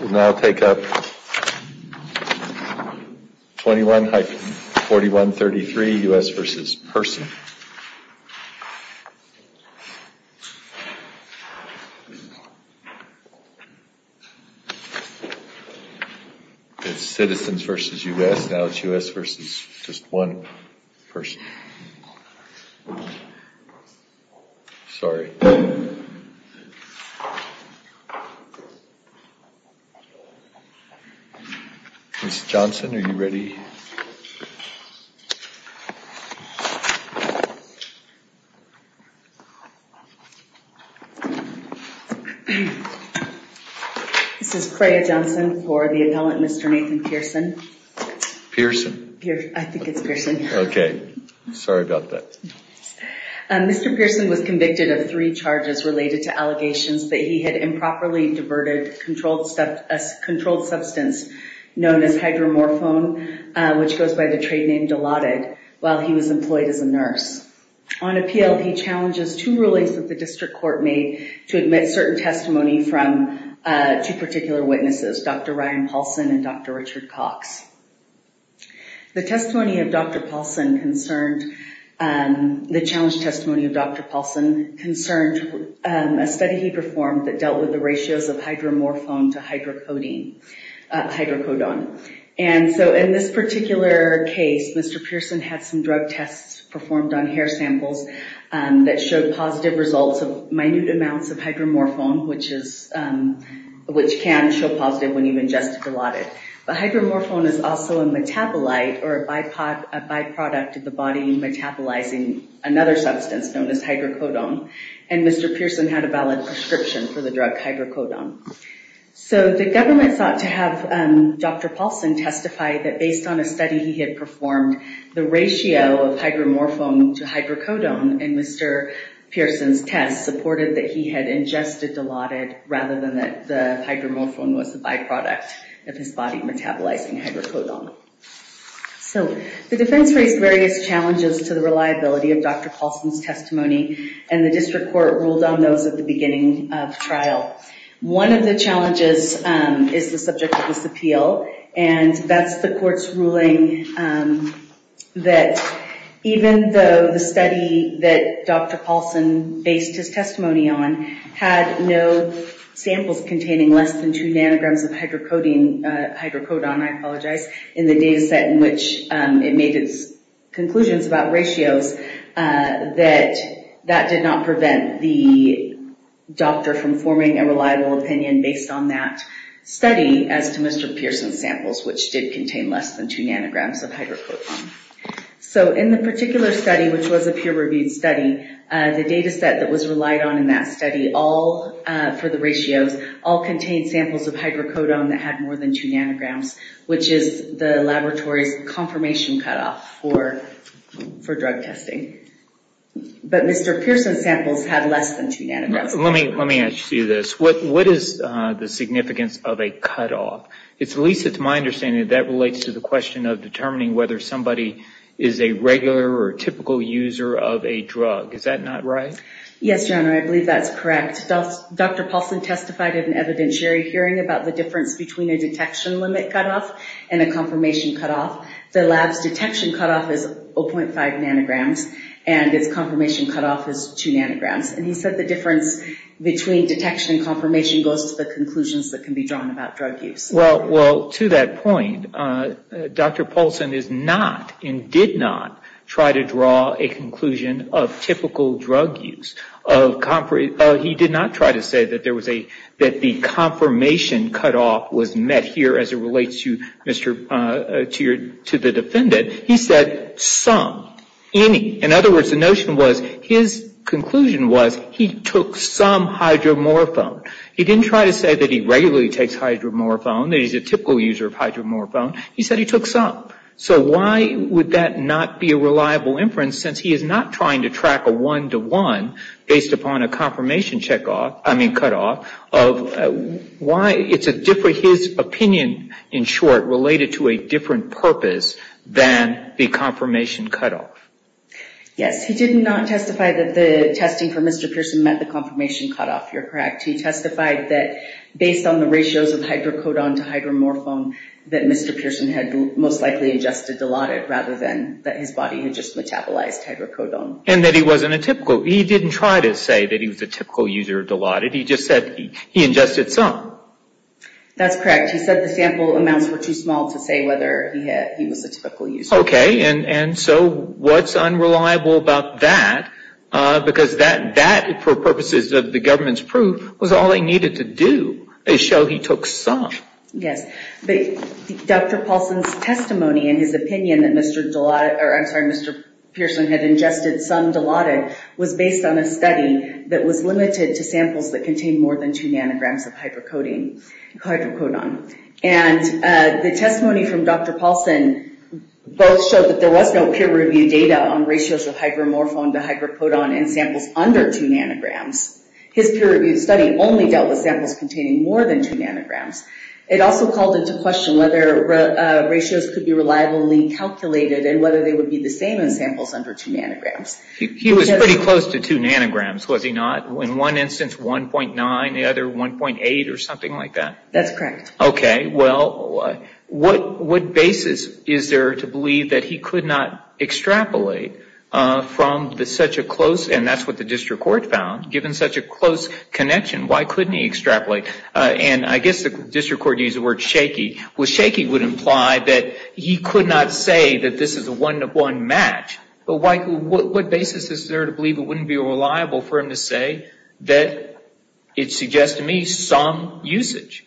We'll now take up 21-4133 U.S. v. Pehrson. It's Citizens v. U.S., now it's U.S. v. just one person. Sorry. Ms. Johnson, are you ready? This is Freya Johnson for the appellant, Mr. Nathan Pearson. Pearson. I think it's Pearson. Okay. Sorry about that. Mr. Pearson was convicted of three charges related to allegations that he had improperly diverted a controlled substance known as hydromorphone, which goes by the trade name Dilaudid, while he was employed as a nurse. On appeal, he challenges two rulings that the district court made to admit certain testimony two particular witnesses, Dr. Ryan Paulson and Dr. Richard Cox. The testimony of Dr. Paulson concerned, the challenge testimony of Dr. Paulson concerned a study he performed that dealt with the ratios of hydromorphone to hydrocodone. And so in this particular case, Mr. Pearson had some drug tests performed on hair samples that showed positive results of minute amounts of hydromorphone, which can show positive when you've ingested Dilaudid. But hydromorphone is also a metabolite or a byproduct of the body metabolizing another substance known as hydrocodone. And Mr. Pearson had a valid prescription for the drug hydrocodone. So the government sought to have Dr. Paulson testify that based on a study he had performed, the ratio of hydromorphone to hydrocodone in Mr. Pearson's test supported that he had ingested Dilaudid rather than that the hydromorphone was the byproduct of his body metabolizing hydrocodone. So the defense raised various challenges to the reliability of Dr. Paulson's testimony and the district court ruled on those at the beginning of trial. One of the challenges is the subject of this appeal, and that's the court's ruling that even though the study that Dr. Paulson based his testimony on had no samples containing less than two nanograms of hydrocodone in the data set in which it made its conclusions about ratios, that that did not prevent the doctor from forming a reliable opinion based on that study as to Mr. Pearson's samples, which did contain less than two nanograms of hydrocodone. So in the particular study, which was a peer-reviewed study, the data set that was relied on in that study all, for the ratios, all contained samples of hydrocodone that had more than two nanograms, which is the laboratory's confirmation cutoff for drug testing. But Mr. Pearson's samples had less than two nanograms. Let me ask you this. What is the significance of a cutoff? It's at least, to my understanding, that relates to the question of determining whether somebody is a regular or typical user of a drug. Is that not right? Yes, Your Honor, I believe that's correct. Dr. Paulson testified at an evidentiary hearing about the difference between a detection limit cutoff and a confirmation cutoff. The lab's detection cutoff is 0.5 nanograms, and its confirmation cutoff is two nanograms. And he said the difference between detection and confirmation goes to the conclusions that can be drawn about drug use. Well, to that point, Dr. Paulson is not and did not try to draw a conclusion of typical drug use. He did not try to say that the confirmation cutoff was met here as it relates to the defendant. He said some, any. In other words, the notion was his conclusion was he took some hydromorphone. He didn't try to say that he regularly takes hydromorphone, that he's a typical user of hydromorphone. He said he took some. So why would that not be a reliable inference, since he is not trying to track a one-to-one, based upon a confirmation checkoff, I mean cutoff, of why it's a different, his opinion in short, related to a different purpose than the confirmation cutoff. Yes, he did not testify that the testing for Mr. Pearson met the confirmation cutoff. You're correct. He testified that based on the ratios of hydrocodone to hydromorphone, that Mr. Pearson had most likely ingested Dilaudid rather than that his body had just metabolized hydrocodone. And that he wasn't a typical, he didn't try to say that he was a typical user of Dilaudid. He just said he ingested some. That's correct. He said the sample amounts were too small to say whether he was a typical user. Okay, and so what's unreliable about that, because that, for purposes of the government's proof, was all they needed to do is show he took some. Yes, but Dr. Paulson's testimony and his opinion that Mr. Dilaudid, or I'm sorry, Mr. Pearson had ingested some Dilaudid, was based on a study that was limited to samples that contained more than two nanograms of hydrocodone. And the testimony from Dr. Paulson both showed that there was no peer-reviewed data on ratios of hydromorphone to hydrocodone in samples under two nanograms. His peer-reviewed study only dealt with samples containing more than two nanograms. It also called into question whether ratios could be reliably calculated and whether they would be the same in samples under two nanograms. He was pretty close to two nanograms, was he not? In one instance 1.9, the other 1.8 or something like that? That's correct. Okay, well, what basis is there to believe that he could not extrapolate from such a close, and that's what the district court found, given such a close connection, why couldn't he extrapolate? And I guess the district court used the word shaky. Well, shaky would imply that he could not say that this is a one-to-one match. But what basis is there to believe it wouldn't be reliable for him to say that it suggests to me some usage?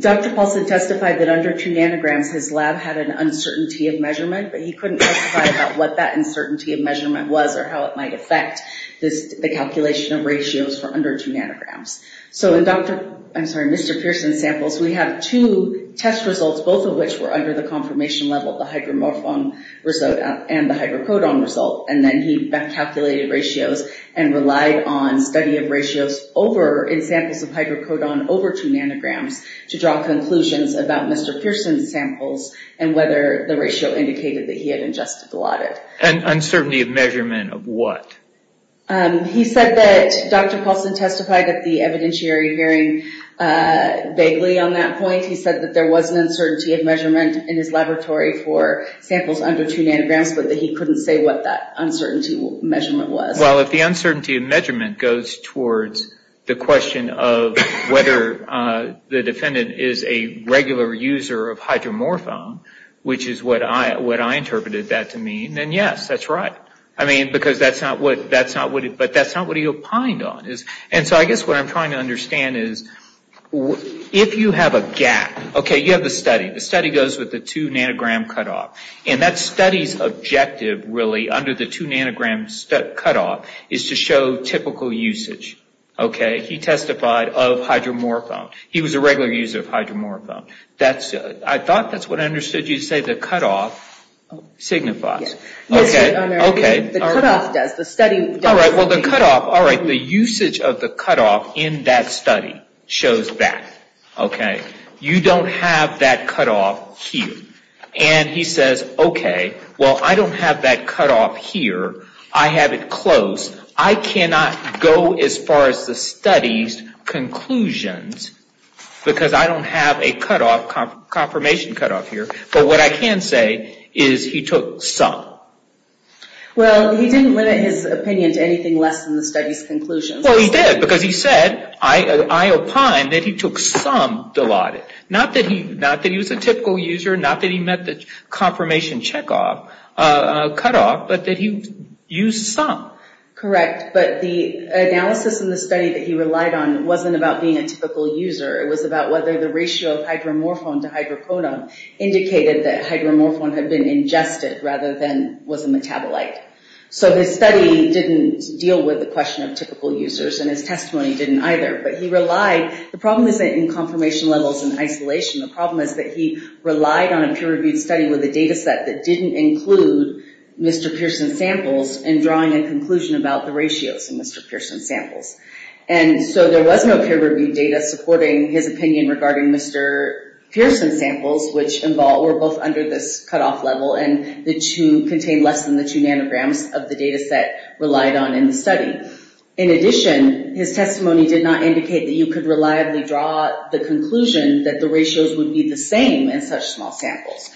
Dr. Paulson testified that under two nanograms his lab had an uncertainty of measurement, but he couldn't testify about what that uncertainty of measurement was or how it might affect the calculation of ratios for under two nanograms. So in Mr. Pearson's samples, we have two test results, both of which were under the confirmation level, the hydromorphone result and the hydrocodone result, and then he calculated ratios and relied on study of ratios in samples of hydrocodone over two nanograms to draw conclusions about Mr. Pearson's samples and whether the ratio indicated that he had ingested a lot of it. And uncertainty of measurement of what? He said that Dr. Paulson testified at the evidentiary hearing vaguely on that point. He said that there was an uncertainty of measurement in his laboratory for samples under two nanograms, but that he couldn't say what that uncertainty of measurement was. Well, if the uncertainty of measurement goes towards the question of whether the defendant is a regular user of hydromorphone, which is what I interpreted that to mean, then yes, that's right. I mean, because that's not what he opined on. And so I guess what I'm trying to understand is if you have a gap, okay, you have the study. The study goes with the two nanogram cutoff, and that study's objective really under the two nanogram cutoff is to show typical usage. Okay? He testified of hydromorphone. He was a regular user of hydromorphone. I thought that's what I understood you to say, the cutoff signifies. Okay. The cutoff does. The study does. All right. Well, the cutoff. All right. The usage of the cutoff in that study shows that. Okay? You don't have that cutoff here. And he says, okay, well, I don't have that cutoff here. I have it close. I cannot go as far as the study's conclusions because I don't have a confirmation cutoff here. But what I can say is he took some. Well, he didn't limit his opinion to anything less than the study's conclusions. Well, he did because he said, I opined that he took some Dilaudid. Not that he was a typical user, not that he met the confirmation checkoff cutoff, but that he used some. Correct. But the analysis in the study that he relied on wasn't about being a typical user. It was about whether the ratio of hydromorphone to hydroponin indicated that hydromorphone had been ingested rather than was a metabolite. So his study didn't deal with the question of typical users, and his testimony didn't either. But he relied. The problem isn't in confirmation levels in isolation. The problem is that he relied on a peer-reviewed study with a data set that didn't include Mr. Pearson's samples in drawing a conclusion about the ratios in Mr. Pearson's samples. And so there was no peer-reviewed data supporting his opinion regarding Mr. Pearson's samples, which were both under this cutoff level and contained less than the two nanograms of the data set relied on in the study. In addition, his testimony did not indicate that you could reliably draw the conclusion that the ratios would be the same in such small samples.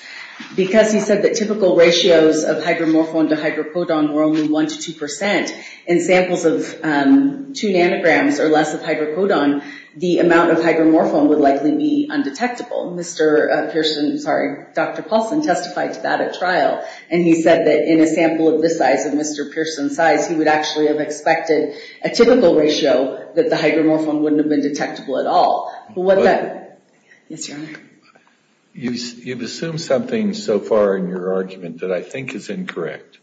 Because he said that typical ratios of hydromorphone to hydropodon were only 1% to 2%, in samples of two nanograms or less of hydropodon, the amount of hydromorphone would likely be undetectable. Dr. Paulson testified to that at trial, and he said that in a sample of this size of Mr. Pearson's size, he would actually have expected a typical ratio, that the hydromorphone wouldn't have been detectable at all. Yes, Your Honor. You've assumed something so far in your argument that I think is incorrect.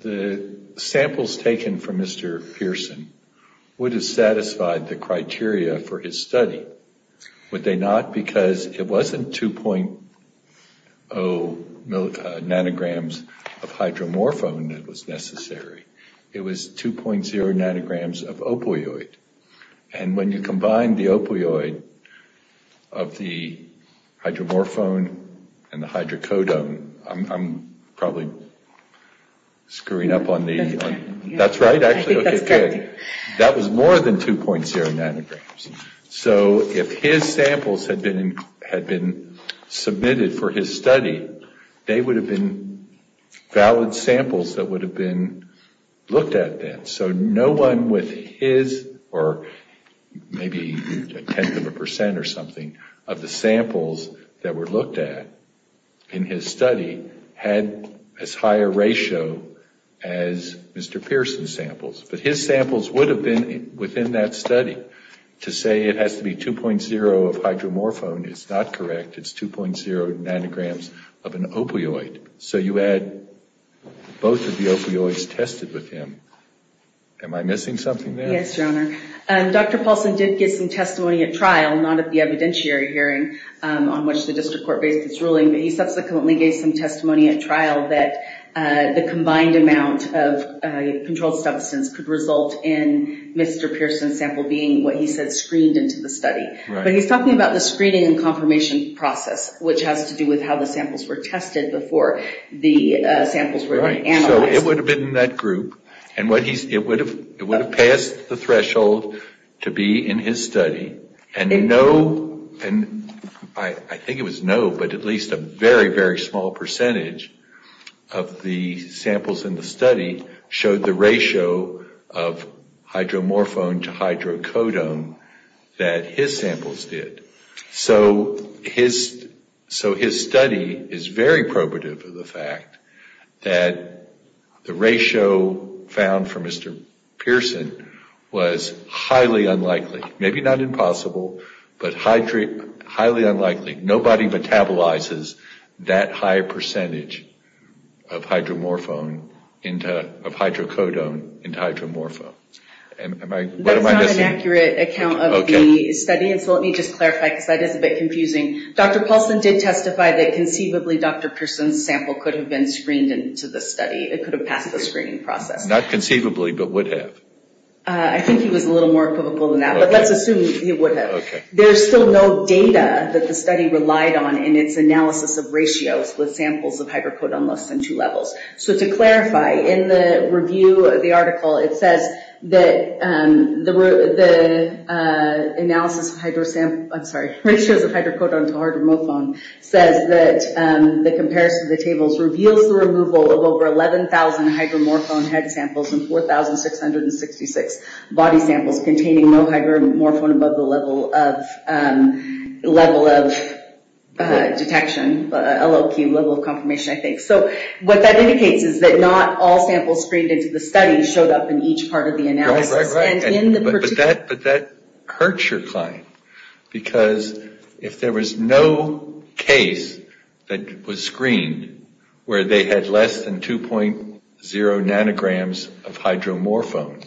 The samples taken from Mr. Pearson would have satisfied the criteria for his study, would they not? Not because it wasn't 2.0 nanograms of hydromorphone that was necessary. It was 2.0 nanograms of opioid. And when you combine the opioid of the hydromorphone and the hydrocodone, I'm probably screwing up on the, that's right actually. I think that's correct. That was more than 2.0 nanograms. So if his samples had been submitted for his study, they would have been valid samples that would have been looked at then. So no one with his, or maybe a tenth of a percent or something, of the samples that were looked at in his study had as high a ratio as Mr. Pearson's samples. But his samples would have been within that study. To say it has to be 2.0 of hydromorphone is not correct. It's 2.0 nanograms of an opioid. So you had both of the opioids tested with him. Am I missing something there? Yes, Your Honor. Dr. Paulson did give some testimony at trial, not at the evidentiary hearing on which the district court based its ruling, but he subsequently gave some testimony at trial that the combined amount of controlled substance could result in Mr. Pearson's sample being, what he said, screened into the study. But he's talking about the screening and confirmation process, which has to do with how the samples were tested before the samples were analyzed. So it would have been in that group, and it would have passed the threshold to be in his study, and no, I think it was no, but at least a very, very small percentage of the samples in the study showed the ratio of hydromorphone to hydrocodone that his samples did. So his study is very probative of the fact that the ratio found for Mr. Pearson was highly unlikely, maybe not impossible, but highly unlikely. Nobody metabolizes that high a percentage of hydrocodone into hydromorphone. That's not an accurate account of the study, and so let me just clarify, because that is a bit confusing. Dr. Paulson did testify that conceivably Dr. Pearson's sample could have been screened into the study. It could have passed the screening process. Not conceivably, but would have. I think he was a little more equivocal than that, but let's assume he would have. Okay. There's still no data that the study relied on in its analysis of ratios with samples of hydrocodone less than two levels. So to clarify, in the review of the article, it says that the analysis of hydrosample, I'm sorry, ratios of hydrocodone to hydromorphone says that the comparison of the tables reveals the removal of over 11,000 hydromorphone head samples and 4,666 body samples containing no hydromorphone above the level of detection, LLQ, level of confirmation, I think. So what that indicates is that not all samples screened into the study showed up in each part of the analysis. Right, right, right. But that hurts your client. Because if there was no case that was screened where they had less than 2.0 nanograms of hydromorphone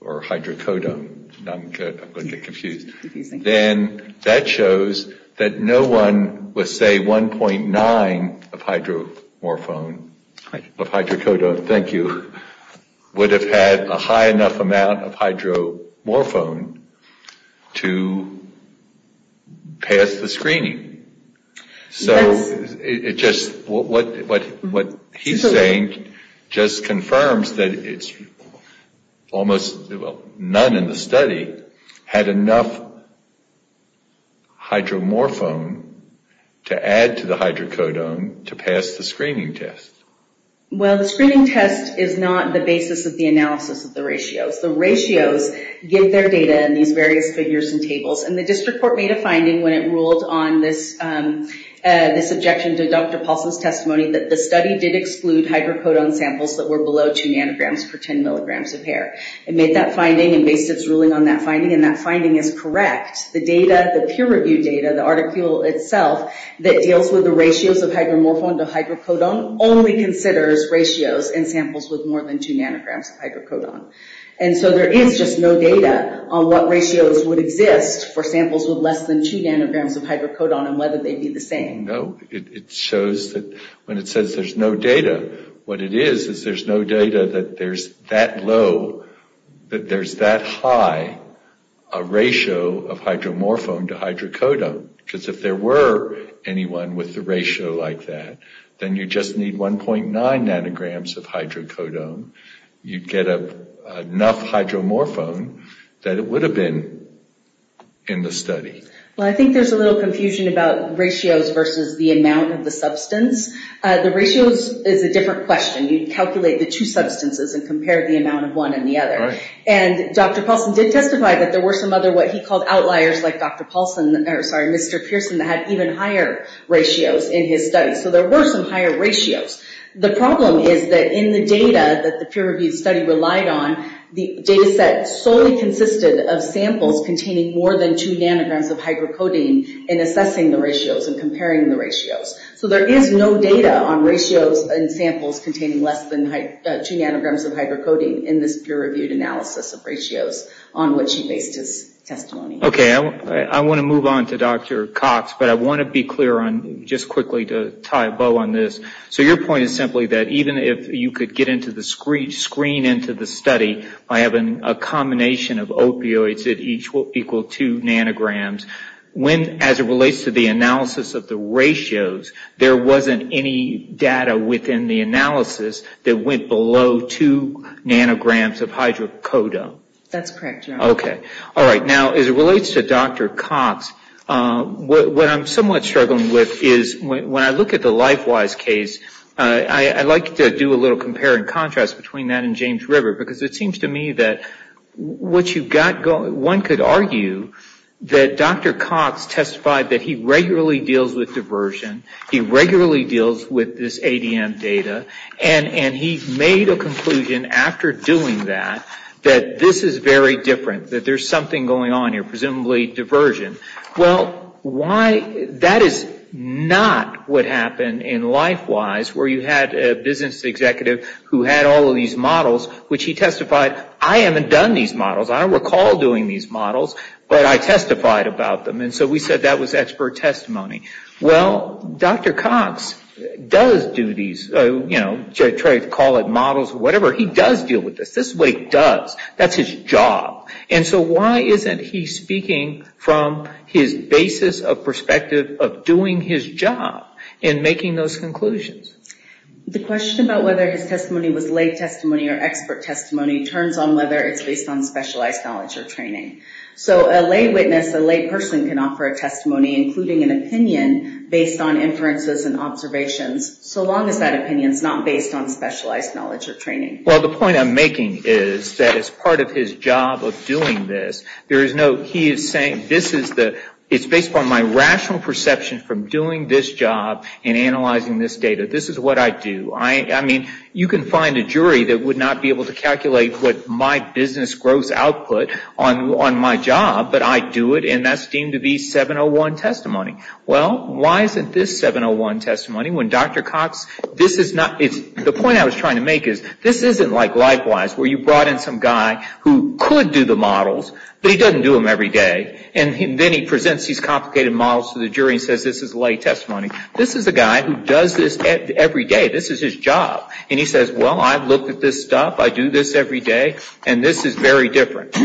or hydrocodone, I'm going to get confused, then that shows that no one would say 1.9 of hydromorphone, of hydrocodone. Thank you. Would have had a high enough amount of hydromorphone to pass the screening. So it just, what he's saying just confirms that it's almost none in the study had enough hydromorphone to add to the hydrocodone to pass the screening test. Well, the screening test is not the basis of the analysis of the ratios. The ratios give their data in these various figures and tables. And the district court made a finding when it ruled on this objection to Dr. Paulson's testimony that the study did exclude hydrocodone samples that were below 2 nanograms per 10 milligrams of hair. It made that finding and based its ruling on that finding, and that finding is correct. The data, the peer review data, the article itself that deals with the ratios of hydromorphone to hydrocodone only considers ratios in samples with more than 2 nanograms of hydrocodone. And so there is just no data on what ratios would exist for samples with less than 2 nanograms of hydrocodone and whether they'd be the same. No, it shows that when it says there's no data, what it is is there's no data that there's that low, that there's that high a ratio of hydromorphone to hydrocodone. Because if there were anyone with a ratio like that, then you'd just need 1.9 nanograms of hydrocodone. You'd get enough hydromorphone that it would have been in the study. Well, I think there's a little confusion about ratios versus the amount of the substance. The ratios is a different question. You'd calculate the two substances and compare the amount of one and the other. And Dr. Paulson did testify that there were some other what he called outliers like Dr. Paulson, or sorry, Mr. Pearson, that had even higher ratios in his study. So there were some higher ratios. The problem is that in the data that the peer-reviewed study relied on, the data set solely consisted of samples containing more than 2 nanograms of hydrocodone in assessing the ratios and comparing the ratios. So there is no data on ratios in samples containing less than 2 nanograms of hydrocodone in this peer-reviewed analysis of ratios on which he based his testimony. Okay, I want to move on to Dr. Cox, but I want to be clear on just quickly to tie a bow on this. So your point is simply that even if you could get into the screen into the study by having a combination of opioids that each will equal 2 nanograms, when as it relates to the analysis of the ratios, there wasn't any data within the analysis that went below 2 nanograms of hydrocodone? That's correct, yeah. Okay. All right, now as it relates to Dr. Cox, what I'm somewhat struggling with is when I look at the LifeWise case, I like to do a little compare and contrast between that and James River, because it seems to me that one could argue that Dr. Cox testified that he regularly deals with diversion, he regularly deals with this ADM data, and he made a conclusion after doing that, that this is very different, that there's something going on here, presumably diversion. Well, that is not what happened in LifeWise, where you had a business executive who had all of these models, which he testified, I haven't done these models, I don't recall doing these models, but I testified about them. And so we said that was expert testimony. Well, Dr. Cox does do these, you know, try to call it models or whatever, he does deal with this. This is what he does. That's his job. And so why isn't he speaking from his basis of perspective of doing his job and making those conclusions? The question about whether his testimony was lay testimony or expert testimony turns on whether it's based on specialized knowledge or training. So a lay witness, a lay person can offer a testimony, including an opinion, based on inferences and observations, so long as that opinion is not based on specialized knowledge or training. Well, the point I'm making is that as part of his job of doing this, there is no, he is saying this is the, it's based on my rational perception from doing this job and analyzing this data, this is what I do. I mean, you can find a jury that would not be able to calculate what my business grows output on my job, but I do it, and that's deemed to be 701 testimony. Well, why isn't this 701 testimony when Dr. Cox, this is not, the point I was trying to make is, this isn't like Likewise, where you brought in some guy who could do the models, but he doesn't do them every day, and then he presents these complicated models to the jury and says this is lay testimony. This is a guy who does this every day, this is his job. And he says, well, I've looked at this stuff, I do this every day, and this is very different.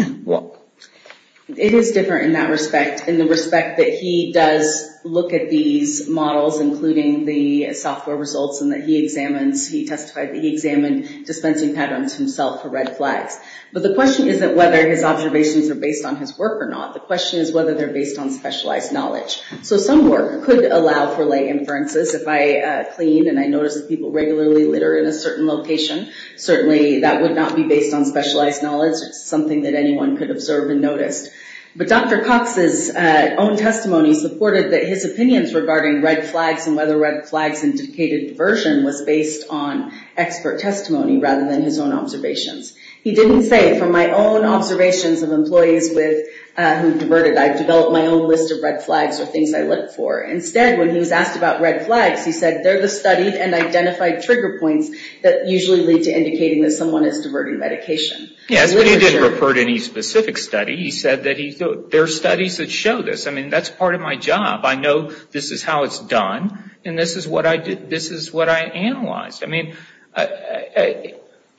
It is different in that respect, in the respect that he does look at these models, including the software results and that he examines, he testified that he examined dispensing patterns himself for red flags. But the question isn't whether his observations are based on his work or not. The question is whether they're based on specialized knowledge. So some work could allow for lay inferences. If I clean and I notice that people regularly litter in a certain location, certainly that would not be based on specialized knowledge. It's something that anyone could observe and notice. But Dr. Cox's own testimony supported that his opinions regarding red flags and whether red flags indicated diversion was based on expert testimony rather than his own observations. He didn't say, from my own observations of employees who diverted, I've developed my own list of red flags or things I look for. Instead, when he was asked about red flags, he said they're the studied and identified trigger points that usually lead to indicating that someone is diverting medication. Yes, but he didn't refer to any specific study. He said that there are studies that show this. I mean, that's part of my job. I know this is how it's done, and this is what I analyzed. I mean,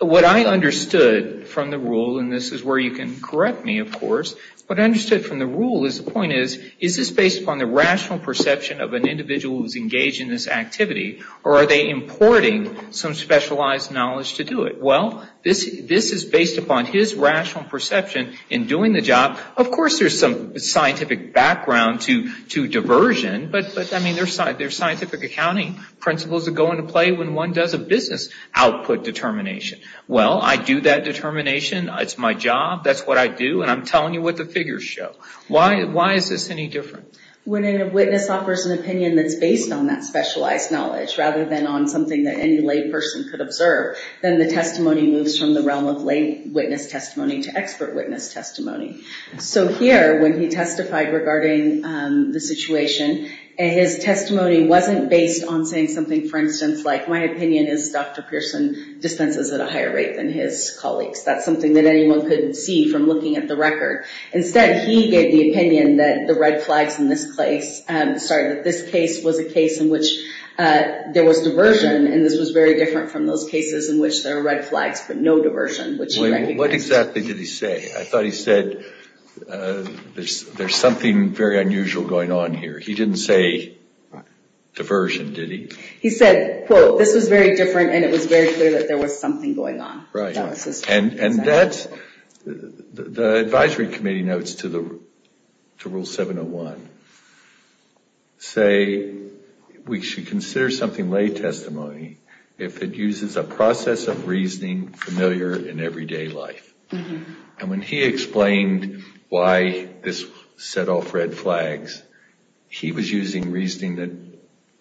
what I understood from the rule, and this is where you can correct me, of course, what I understood from the rule is the point is, is this based upon the rational perception of an individual who's engaged in this activity, or are they importing some specialized knowledge to do it? Well, this is based upon his rational perception in doing the job. Of course, there's some scientific background to diversion, but, I mean, there's scientific accounting principles that go into play when one does a business output determination. Well, I do that determination. It's my job. That's what I do, and I'm telling you what the figures show. Why is this any different? When a witness offers an opinion that's based on that specialized knowledge rather than on something that any lay person could observe, then the testimony moves from the realm of lay witness testimony to expert witness testimony. So here, when he testified regarding the situation, his testimony wasn't based on saying something, for instance, like, my opinion is Dr. Pearson dispenses at a higher rate than his colleagues. That's something that anyone could see from looking at the record. Instead, he gave the opinion that the red flags in this place, sorry, that this case was a case in which there was diversion, and this was very different from those cases in which there are red flags but no diversion, which he recognized. What exactly did he say? I thought he said there's something very unusual going on here. He didn't say diversion, did he? He said, quote, this was very different, and it was very clear that there was something going on. Right. The advisory committee notes to Rule 701 say we should consider something lay testimony if it uses a process of reasoning familiar in everyday life. And when he explained why this set off red flags, he was using reasoning that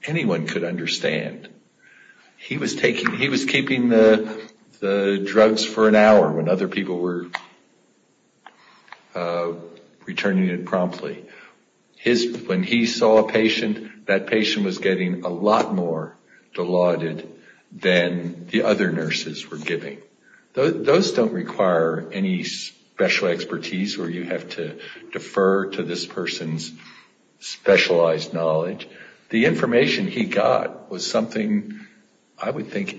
anyone could understand. He was taking, he was keeping the drugs for an hour when other people were returning it promptly. When he saw a patient, that patient was getting a lot more deluded than the other nurses were giving. Those don't require any special expertise where you have to defer to this person's specialized knowledge. The information he got was something I would think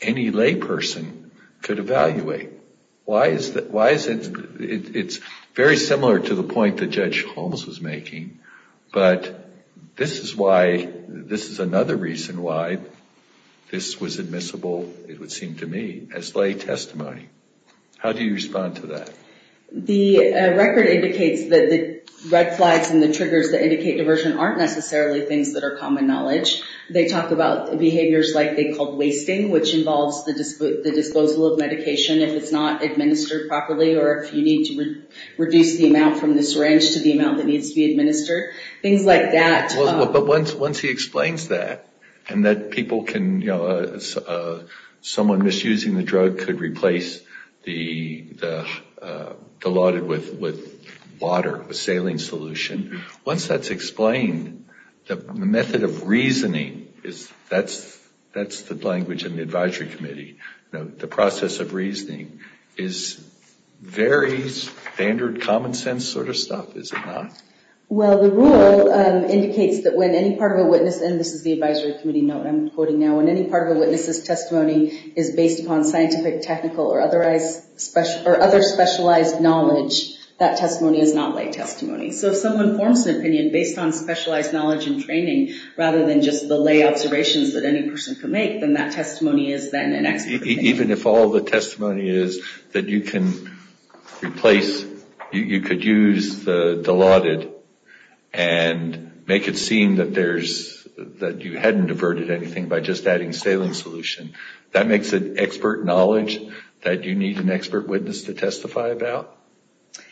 any lay person could evaluate. Why is it, it's very similar to the point that Judge Holmes was making, but this is why, this is another reason why this was admissible, it would seem to me, as lay testimony. How do you respond to that? The record indicates that the red flags and the triggers that indicate diversion aren't necessarily things that are common knowledge. They talk about behaviors like they called wasting, which involves the disposal of medication if it's not administered properly or if you need to reduce the amount from the syringe to the amount that needs to be administered. Things like that. But once he explains that, and that people can, someone misusing the drug could replace the water with saline solution, once that's explained, the method of reasoning, that's the language in the advisory committee, the process of reasoning is very standard common sense sort of stuff, is it not? Well, the rule indicates that when any part of a witness, and this is the advisory committee note I'm quoting now, when any part of a witness's testimony is based upon scientific, technical, or other specialized knowledge, that testimony is not lay testimony. So if someone forms an opinion based on specialized knowledge and training, rather than just the lay observations that any person could make, then that testimony is then an expert opinion. Even if all the testimony is that you can replace, you could use the lauded and make it seem that there's, that you hadn't diverted anything by just adding saline solution. That makes it expert knowledge that you need an expert witness to testify about.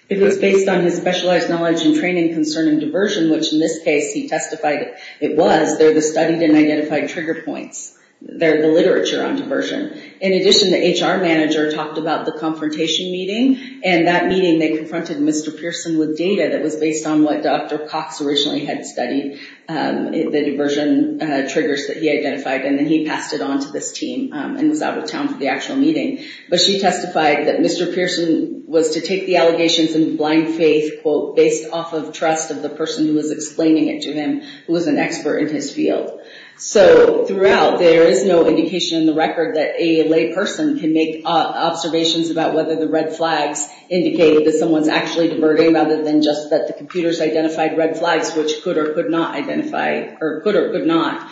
If it's based on his specialized knowledge and training concerning diversion, which in this case he testified it was, they're the studied and identified trigger points. They're the literature on diversion. In addition, the HR manager talked about the confrontation meeting, and that meeting they confronted Mr. Pearson with data that was based on what Dr. Cox originally had studied, the diversion triggers that he identified, and then he passed it on to this team and was out of town for the actual meeting. But she testified that Mr. Pearson was to take the allegations in blind faith, quote, based off of trust of the person who was explaining it to him, who was an expert in his field. So throughout, there is no indication in the record that a lay person can make observations about whether the red flags indicated that someone's actually diverting, rather than just that the computers identified red flags, which could or could not identify, or could or could not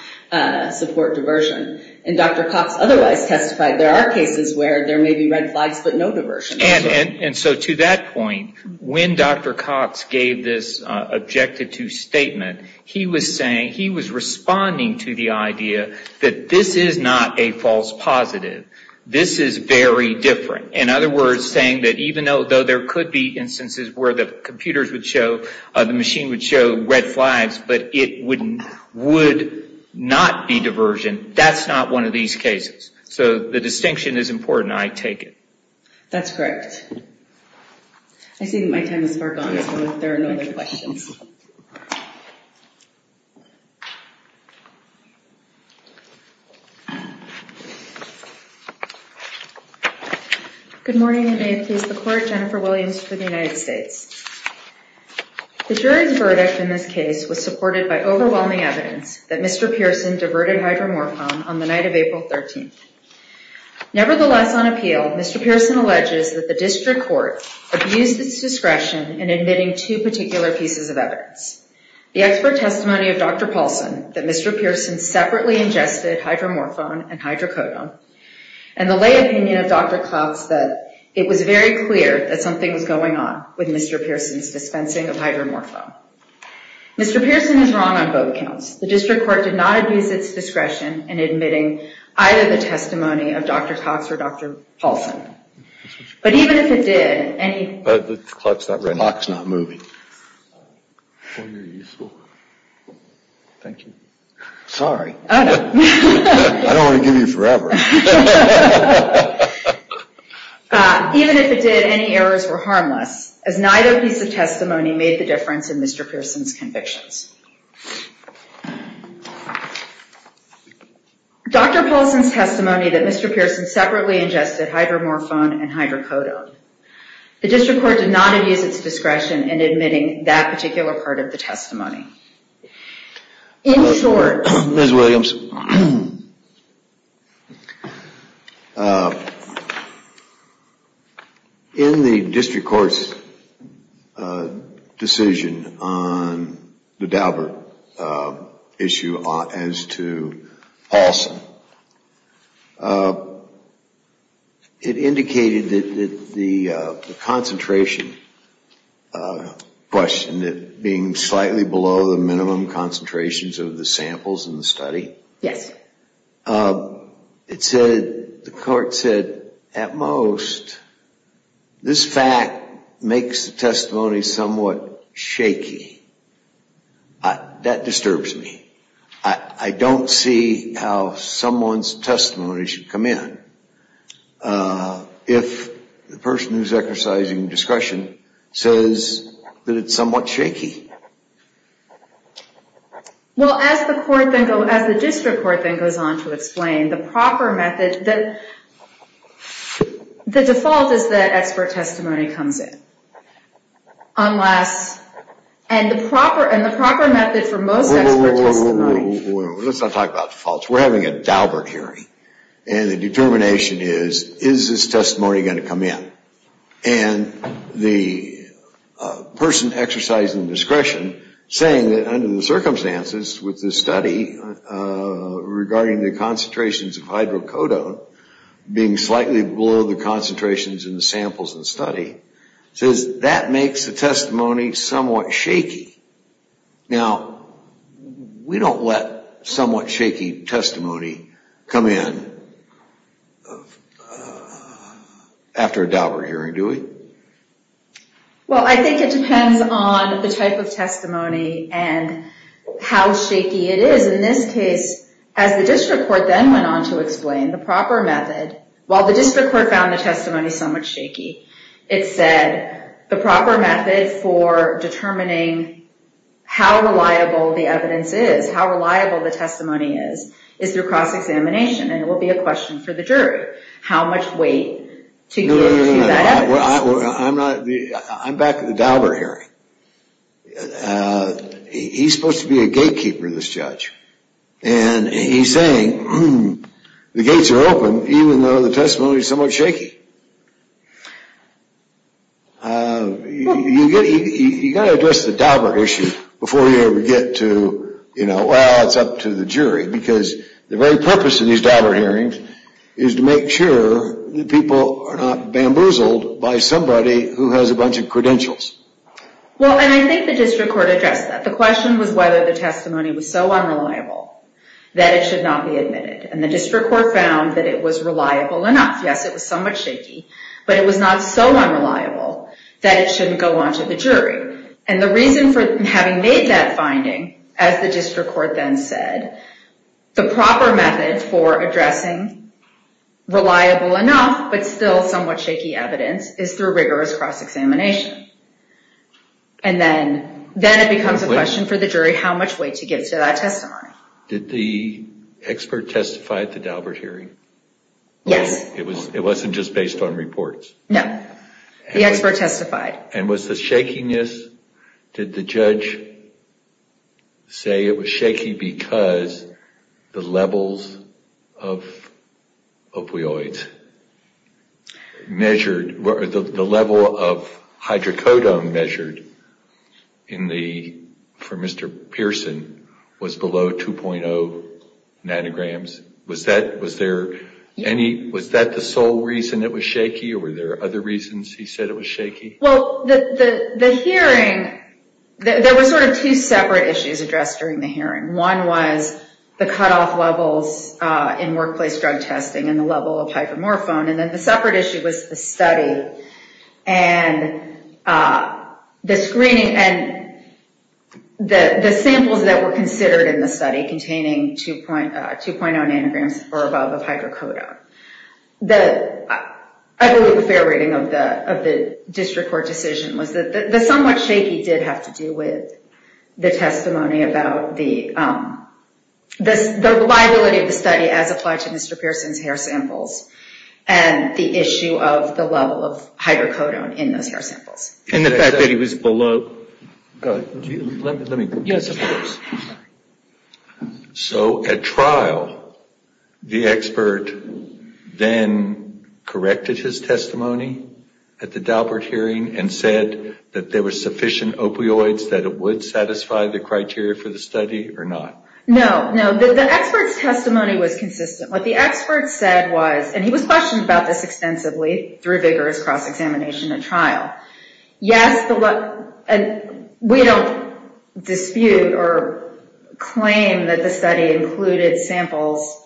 support diversion. And Dr. Cox otherwise testified there are cases where there may be red flags, but no diversion. And so to that point, when Dr. Cox gave this objected to statement, he was saying, he was responding to the idea that this is not a false positive. This is very different. In other words, saying that even though there could be instances where the computers would show, the machine would show red flags, but it would not be diversion, that's not one of these cases. So the distinction is important, I take it. That's correct. I see that my time is far gone, so there are no other questions. Good morning, and may it please the Court, Jennifer Williams for the United States. The jury's verdict in this case was supported by overwhelming evidence that Mr. Pearson diverted hydromorphon on the night of April 13th. Nevertheless, on appeal, Mr. Pearson alleges that the district court abused its discretion in admitting two particular pieces of evidence. The expert testimony of Dr. Paulson, that Mr. Pearson separately ingested hydromorphon and hydrocodone, and the lay opinion of Dr. Cloutz, that it was very clear that something was going on with Mr. Pearson's dispensing of hydromorphon. Mr. Pearson is wrong on both counts. The district court did not abuse its discretion in admitting either the testimony of Dr. Cloutz or Dr. Paulson. But even if it did, any errors were harmless, as neither piece of testimony made the difference in Mr. Pearson's convictions. Dr. Paulson's testimony that Mr. Pearson separately ingested hydromorphon and hydrocodone. The district court did not abuse its discretion in admitting that particular part of the testimony. In short... Ms. Williams, I have a question on the Daubert issue as to Paulson. It indicated that the concentration question, that being slightly below the minimum concentrations of the samples in the study, it said, the court said, at most, this fact makes the testimony somewhat shaky. That disturbs me. I don't see how someone's testimony should come in, if the person who's exercising discretion says that it's somewhat shaky. Well, as the district court then goes on to explain, the proper method... The default is that expert testimony comes in. Unless... And the proper method for most expert testimony... Wait, wait, wait, let's not talk about defaults. We're having a Daubert hearing. And the determination is, is this testimony going to come in? And the person exercising discretion saying that under the circumstances with the study regarding the concentrations of hydrocodone, being slightly below the concentrations in the samples in the study, says that makes the testimony somewhat shaky. Now, we don't let somewhat shaky testimony come in after a Daubert hearing, do we? And how shaky it is. In this case, as the district court then went on to explain, the proper method... While the district court found the testimony somewhat shaky, it said, the proper method for determining how reliable the evidence is, how reliable the testimony is, is through cross-examination. And it will be a question for the jury. How much weight to give to that evidence. I'm back at the Daubert hearing. He's supposed to be a gatekeeper, this judge. And he's saying, the gates are open, even though the testimony is somewhat shaky. You've got to address the Daubert issue before you ever get to, well, it's up to the jury. Because the very purpose of these Daubert hearings is to make sure that people are not bamboozled by somebody who has a bunch of credentials. Well, and I think the district court addressed that. The question was whether the testimony was so unreliable that it should not be admitted. And the district court found that it was reliable enough. Yes, it was somewhat shaky, but it was not so unreliable that it shouldn't go on to the jury. And the reason for having made that finding, as the district court then said, the proper method for addressing reliable enough, but still somewhat shaky evidence, is through rigorous cross-examination. And then it becomes a question for the jury how much weight to give to that testimony. Did the expert testify at the Daubert hearing? Yes. It wasn't just based on reports? No, the expert testified. And was the shakiness, did the judge say it was shaky because the levels of opioids measured, the level of hydrocodone measured for Mr. Pearson was below 2.0 nanograms? Was that the sole reason it was shaky, or were there other reasons he said it was shaky? Well, the hearing, there were sort of two separate issues addressed during the hearing. One was the cutoff levels in workplace drug testing and the level of hypomorphone. And then the separate issue was the study and the screening and the samples that were considered in the study containing 2.0 nanograms or above of hydrocodone. I believe the fair rating of the district court decision was that the somewhat shaky did have to do with the testimony about the liability of the study as applied to Mr. Pearson's hair samples and the issue of the level of hydrocodone in those hair samples. And the fact that he was below... Go ahead. Let me... Yes, of course. So at trial, the expert then corrected his testimony at the Daubert hearing and said that there were sufficient opioids that it would satisfy the criteria for the study or not? No, no. The expert's testimony was consistent. What the expert said was, and he was questioned about this extensively through vigorous cross-examination at trial, yes, we don't dispute or claim that the study included samples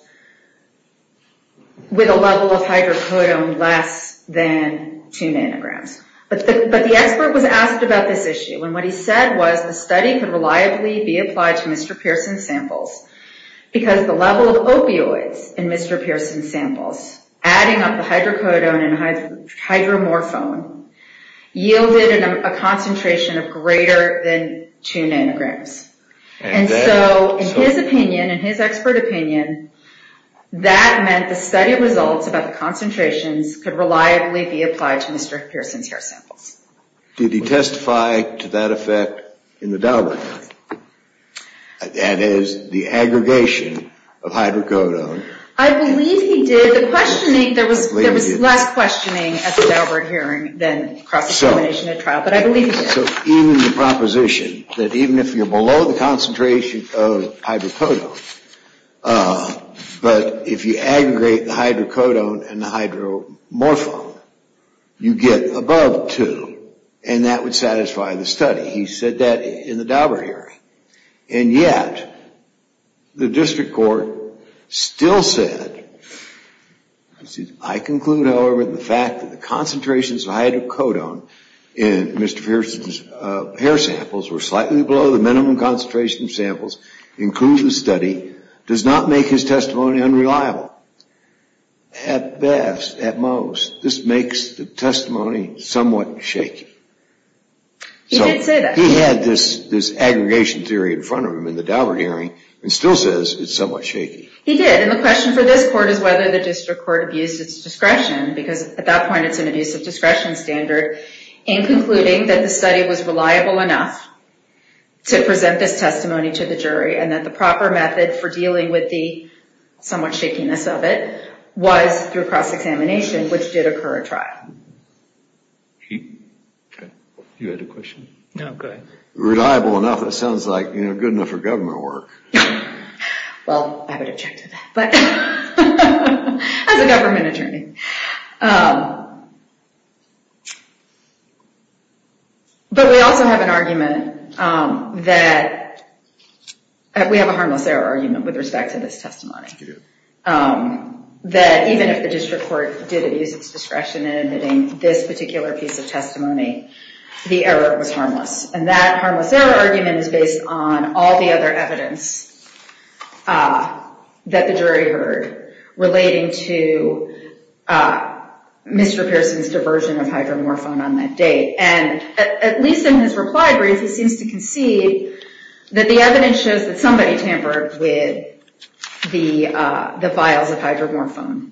with a level of hydrocodone less than 2 nanograms. But the expert was asked about this issue and what he said was the study could reliably be applied to Mr. Pearson's samples because the level of opioids in Mr. Pearson's samples, adding up the hydrocodone and hydromorphone, yielded a concentration of greater than 2 nanograms. And so in his opinion, in his expert opinion, that meant the study results about the concentrations could reliably be applied to Mr. Pearson's hair samples. Did he testify to that effect in the Daubert hearing? That is, the aggregation of hydrocodone. I believe he did. There was less questioning at the Daubert hearing than cross-examination at trial, but I believe he did. So even the proposition that even if you're below the concentration of hydrocodone, but if you aggregate the hydrocodone and the hydromorphone, you get above 2, and that would satisfy the study. He said that in the Daubert hearing. And yet, the district court still said, I conclude, however, the fact that the concentrations of hydrocodone in Mr. Pearson's hair samples were slightly below the minimum concentration of samples includes the study, does not make his testimony unreliable. At best, at most, this makes the testimony somewhat shaky. He did say that. He had this aggregation theory in front of him in the Daubert hearing and still says it's somewhat shaky. He did, and the question for this court is whether the district court abused its discretion, because at that point it's an abusive discretion standard, in concluding that the study was reliable enough to present this testimony to the jury and that the proper method for dealing with the somewhat shakiness of it was through cross-examination, which did occur at trial. You had a question? No, go ahead. Reliable enough, it sounds like, you know, good enough for government work. Well, I would object to that, but as a government attorney. But we also have an argument that we have a harmless error argument with respect to this testimony, that even if the district court did abuse its discretion in admitting this particular piece of testimony, the error was harmless, and that harmless error argument was based on all the other evidence that the jury heard relating to Mr. Pearson's diversion of hydromorphone on that date. And at least in his reply brief, he seems to concede that the evidence shows that somebody tampered with the vials of hydromorphone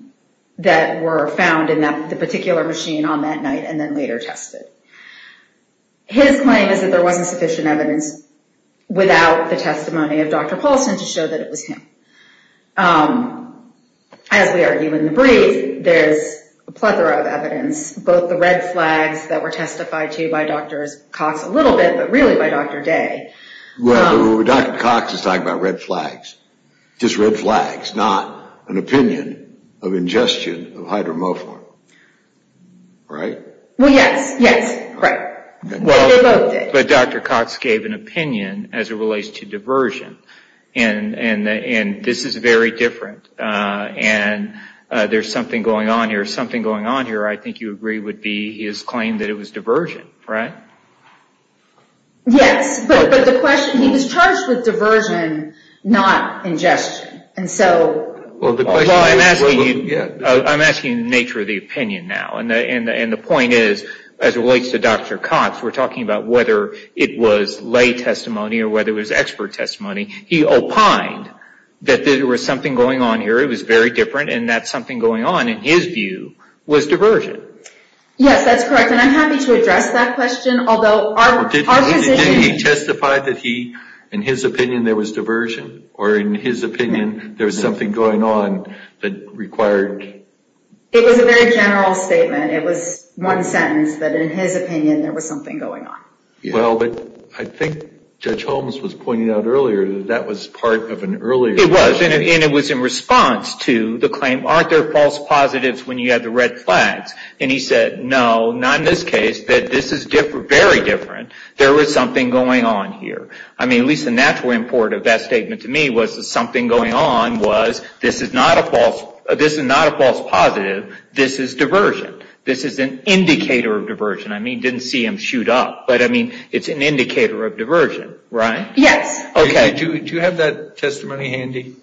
that were found in the particular machine on that night and then later tested. His claim is that there wasn't sufficient evidence without the testimony of Dr. Paulson to show that it was him. As we argue in the brief, there's a plethora of evidence, both the red flags that were testified to by Dr. Cox a little bit, but really by Dr. Day. Well, Dr. Cox is talking about red flags, just red flags, not an opinion of ingestion of hydromorphone, right? Well, yes, yes, correct. But Dr. Cox gave an opinion as it relates to diversion, and this is very different, and there's something going on here. Something going on here, I think you agree, would be his claim that it was diversion, right? Yes, but the question, he was charged with diversion, not ingestion, and so... Well, I'm asking the nature of the opinion now, and the point is, as it relates to Dr. Cox, we're talking about whether it was lay testimony or whether it was expert testimony. He opined that there was something going on here. It was very different, and that something going on, in his view, was diversion. Yes, that's correct, and I'm happy to address that question, although our position... Did he testify that he, in his opinion, there was diversion, or in his opinion, there was something going on that required... It was a very general statement. It was one sentence that, in his opinion, there was something going on. Well, but I think Judge Holmes was pointing out earlier that that was part of an earlier... It was, and it was in response to the claim, aren't there false positives when you have the red flags? And he said, no, not in this case, that this is very different. There was something going on here. I mean, at least the natural import of that statement to me was that something going on was this is not a false positive. This is diversion. This is an indicator of diversion. I mean, didn't see him shoot up, but I mean, it's an indicator of diversion, right? Yes. Okay. Do you have that testimony handy?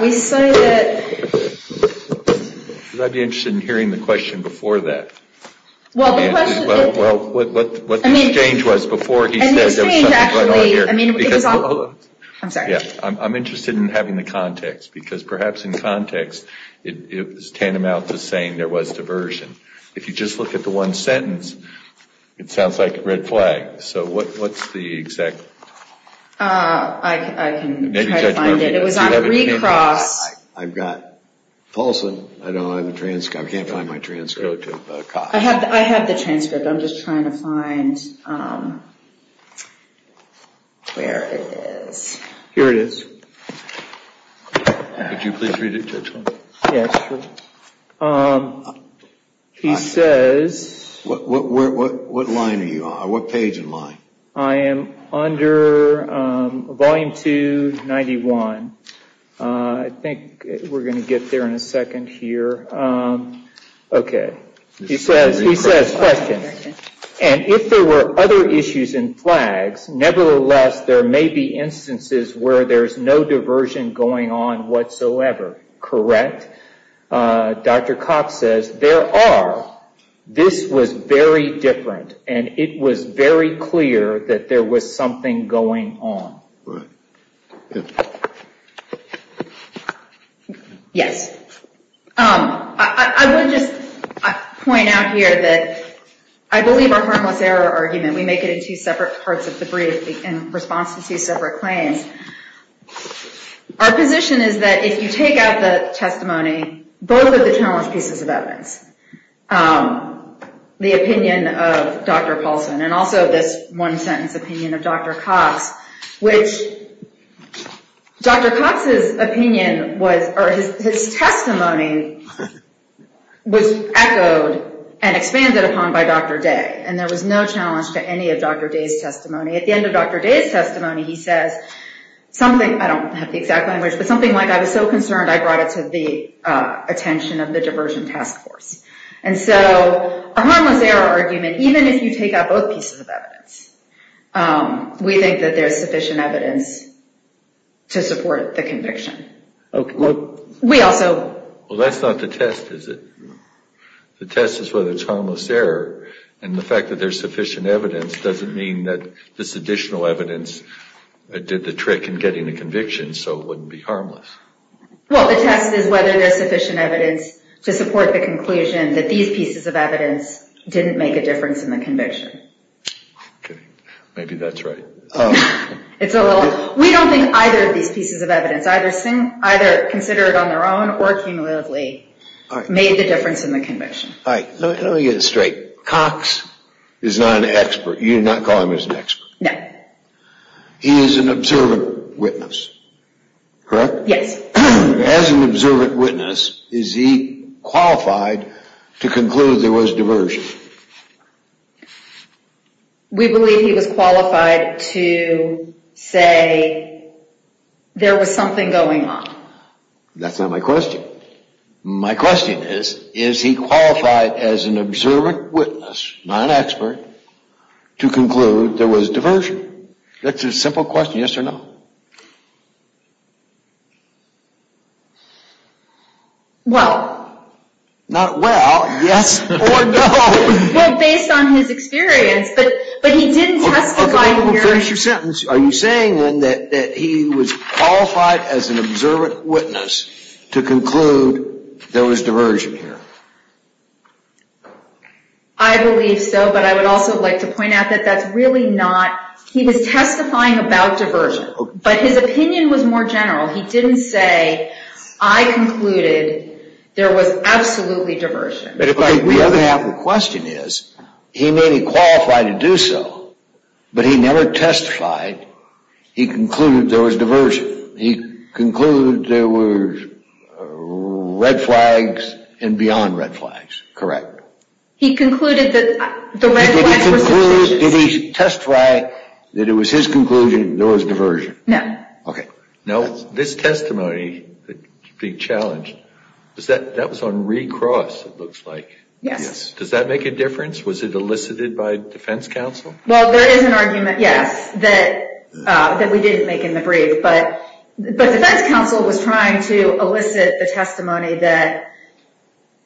We say that... I'd be interested in hearing the question before that. Well, the question... Well, what the exchange was before he said there was something going on here. I'm sorry. I'm interested in having the context because perhaps in context, it was tantamount to saying there was diversion. If you just look at the one sentence, it sounds like a red flag. So what's the exact... I can try to find it. It was on a recross. I've got... Paulson, I don't have a transcript. I can't find my transcript. I have the transcript. I'm just trying to find where it is. Here it is. Could you please read it to us? Yes, sure. He says... What line are you on? What page and line? I am under volume 291. I think we're going to get there in a second here. Okay. He says, question. And if there were other issues in flags, nevertheless, there may be instances where there's no diversion going on whatsoever. Correct? Dr. Cox says, there are. This was very different, and it was very clear that there was something going on. Right. Yes. I would just point out here that I believe our harmless error argument, we make it in two separate parts of the brief in response to two separate claims. Our position is that if you take out the testimony, both of the challenge pieces of evidence, the opinion of Dr. Paulson, and also this one-sentence opinion of Dr. Cox, which Dr. Cox's testimony was echoed and expanded upon by Dr. Day, and there was no challenge to any of Dr. Day's testimony. At the end of Dr. Day's testimony, he says something, I don't have the exact language, but something like, I was so concerned I brought it to the attention of the diversion task force. And so a harmless error argument, even if you take out both pieces of evidence, we think that there's sufficient evidence to support the conviction. Okay. We also. Well, that's not the test, is it? The test is whether it's harmless error, and the fact that there's sufficient evidence doesn't mean that this additional evidence did the trick in getting the conviction, so it wouldn't be harmless. Well, the test is whether there's sufficient evidence to support the conclusion that these pieces of evidence didn't make a difference in the conviction. Okay. Maybe that's right. It's a little. We don't think either of these pieces of evidence, either considered on their own or cumulatively, made the difference in the conviction. All right. Let me get this straight. Cox is not an expert. You're not calling him an expert? No. He is an observant witness, correct? Yes. As an observant witness, is he qualified to conclude there was diversion? We believe he was qualified to say there was something going on. That's not my question. My question is, is he qualified as an observant witness, not an expert, to conclude there was diversion? That's a simple question. Yes or no? Well. Not well. Yes or no. Well, based on his experience. But he didn't testify here. Finish your sentence. Are you saying then that he was qualified as an observant witness to conclude there was diversion here? I believe so. But I would also like to point out that that's really not. He was testifying about diversion. But his opinion was more general. He didn't say, I concluded there was absolutely diversion. The other half of the question is, he may be qualified to do so, but he never testified. He concluded there was diversion. He concluded there were red flags and beyond red flags, correct? He concluded that the red flags were suspicious. Did he testify that it was his conclusion there was diversion? No. Okay. Now, this testimony, the challenge, that was on recross, it looks like. Yes. Does that make a difference? Was it elicited by defense counsel? Well, there is an argument, yes, that we didn't make in the brief. But defense counsel was trying to elicit the testimony that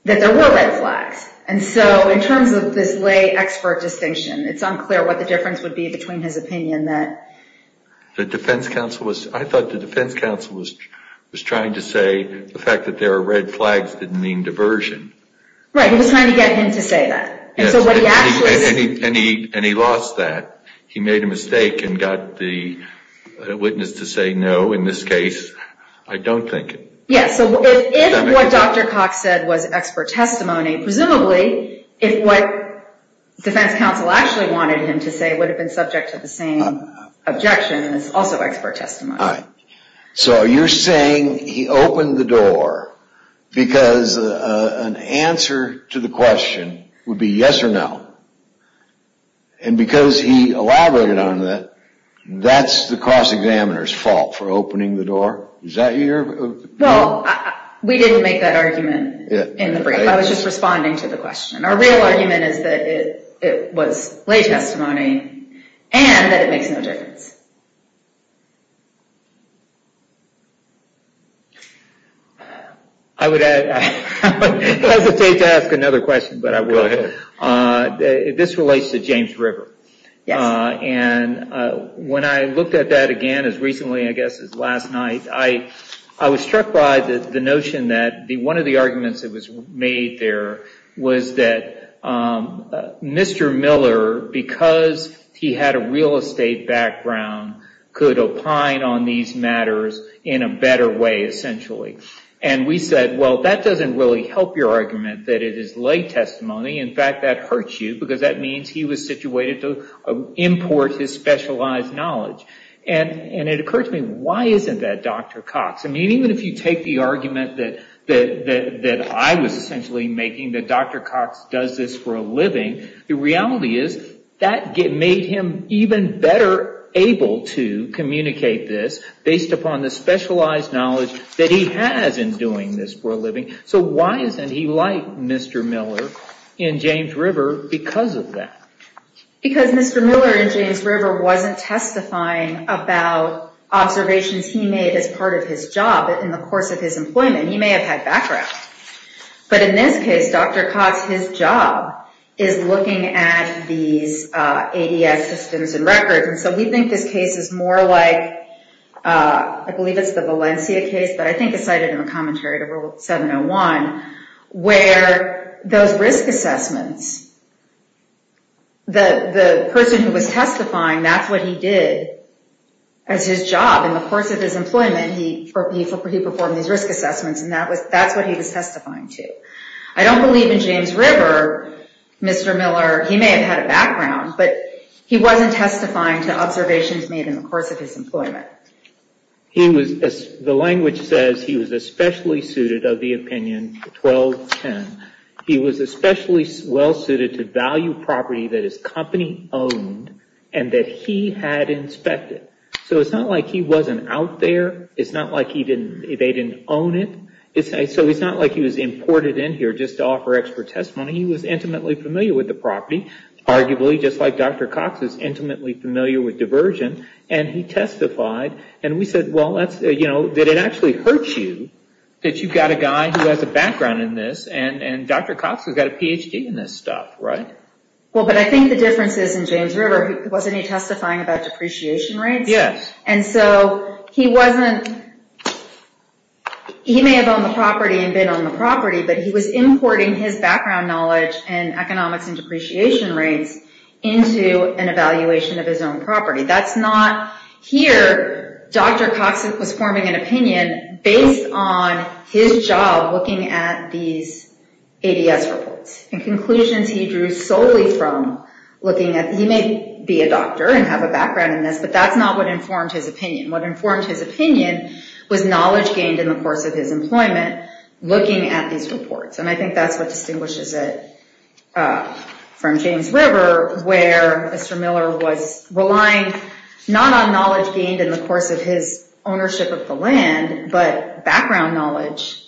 there were red flags. And so in terms of this lay expert distinction, it's unclear what the difference would be between his opinion that. I thought the defense counsel was trying to say the fact that there are red flags didn't mean diversion. Right. He was trying to get him to say that. And he lost that. He made a mistake and got the witness to say no in this case. I don't think it. Yes. So if what Dr. Cox said was expert testimony, presumably if what defense counsel actually wanted him to say would have been subject to the same objection, it's also expert testimony. All right. So you're saying he opened the door because an answer to the question would be yes or no. And because he elaborated on that, that's the cross-examiner's fault for opening the door. Well, we didn't make that argument in the brief. I was just responding to the question. Our real argument is that it was lay testimony and that it makes no difference. I would hesitate to ask another question, but I will. Go ahead. This relates to James River. Yes. And when I looked at that again as recently, I guess, as last night, I was struck by the notion that one of the arguments that was made there was that Mr. Miller, because he had a real estate background, could opine on these matters in a better way, essentially. And we said, well, that doesn't really help your argument that it is lay testimony. In fact, that hurts you because that means he was situated to import his specialized knowledge. And it occurred to me, why isn't that Dr. Cox? I mean, even if you take the argument that I was essentially making, that Dr. Cox does this for a living, the reality is that made him even better able to communicate this based upon the specialized knowledge that he has in doing this for a living. So why isn't he like Mr. Miller in James River because of that? Because Mr. Miller in James River wasn't testifying about observations he made as part of his job in the course of his employment. He may have had background. But in this case, Dr. Cox, his job is looking at these ADS systems and records. And so we think this case is more like, I believe it's the Valencia case, but I think it's cited in the commentary to Rule 701, where those risk assessments, the person who was testifying, that's what he did as his job in the course of his employment. He performed these risk assessments, and that's what he was testifying to. I don't believe in James River, Mr. Miller. He may have had a background, but he wasn't testifying to observations made in the course of his employment. The language says he was especially suited of the opinion 1210. He was especially well suited to value property that his company owned and that he had inspected. So it's not like he wasn't out there. It's not like they didn't own it. So it's not like he was imported in here just to offer expert testimony. He was intimately familiar with the property, arguably just like Dr. Cox is intimately familiar with diversion. He testified, and we said, that it actually hurts you that you've got a guy who has a background in this, and Dr. Cox has got a Ph.D. in this stuff. Right? Well, but I think the difference is in James River, wasn't he testifying about depreciation rates? Yes. So he may have owned the property and been on the property, but he was importing his background knowledge in economics and depreciation rates into an evaluation of his own property. That's not here. Dr. Cox was forming an opinion based on his job looking at these ADS reports and conclusions he drew solely from looking at, he may be a doctor and have a background in this, but that's not what informed his opinion. What informed his opinion was knowledge gained in the course of his employment looking at these reports. And I think that's what distinguishes it from James River, where Mr. Miller was relying not on knowledge gained in the course of his ownership of the land, but background knowledge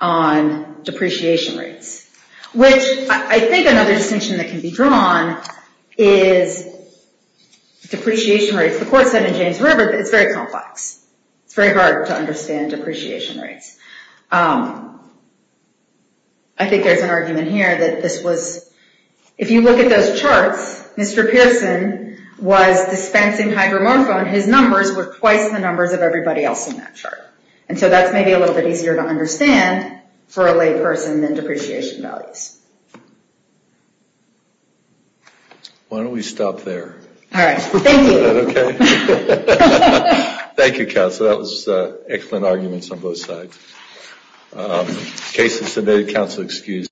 on depreciation rates, which I think another distinction that can be drawn is depreciation rates. The court said in James River that it's very complex. It's very hard to understand depreciation rates. I think there's an argument here that this was, if you look at those charts, Mr. Pearson was dispensing hydromorphone. His numbers were twice the numbers of everybody else in that chart. And so that's maybe a little bit easier to understand for a lay person than depreciation values. Why don't we stop there? All right. Thank you. Okay. Thank you, counsel. That was excellent arguments on both sides. Cases submitted, counsel excused.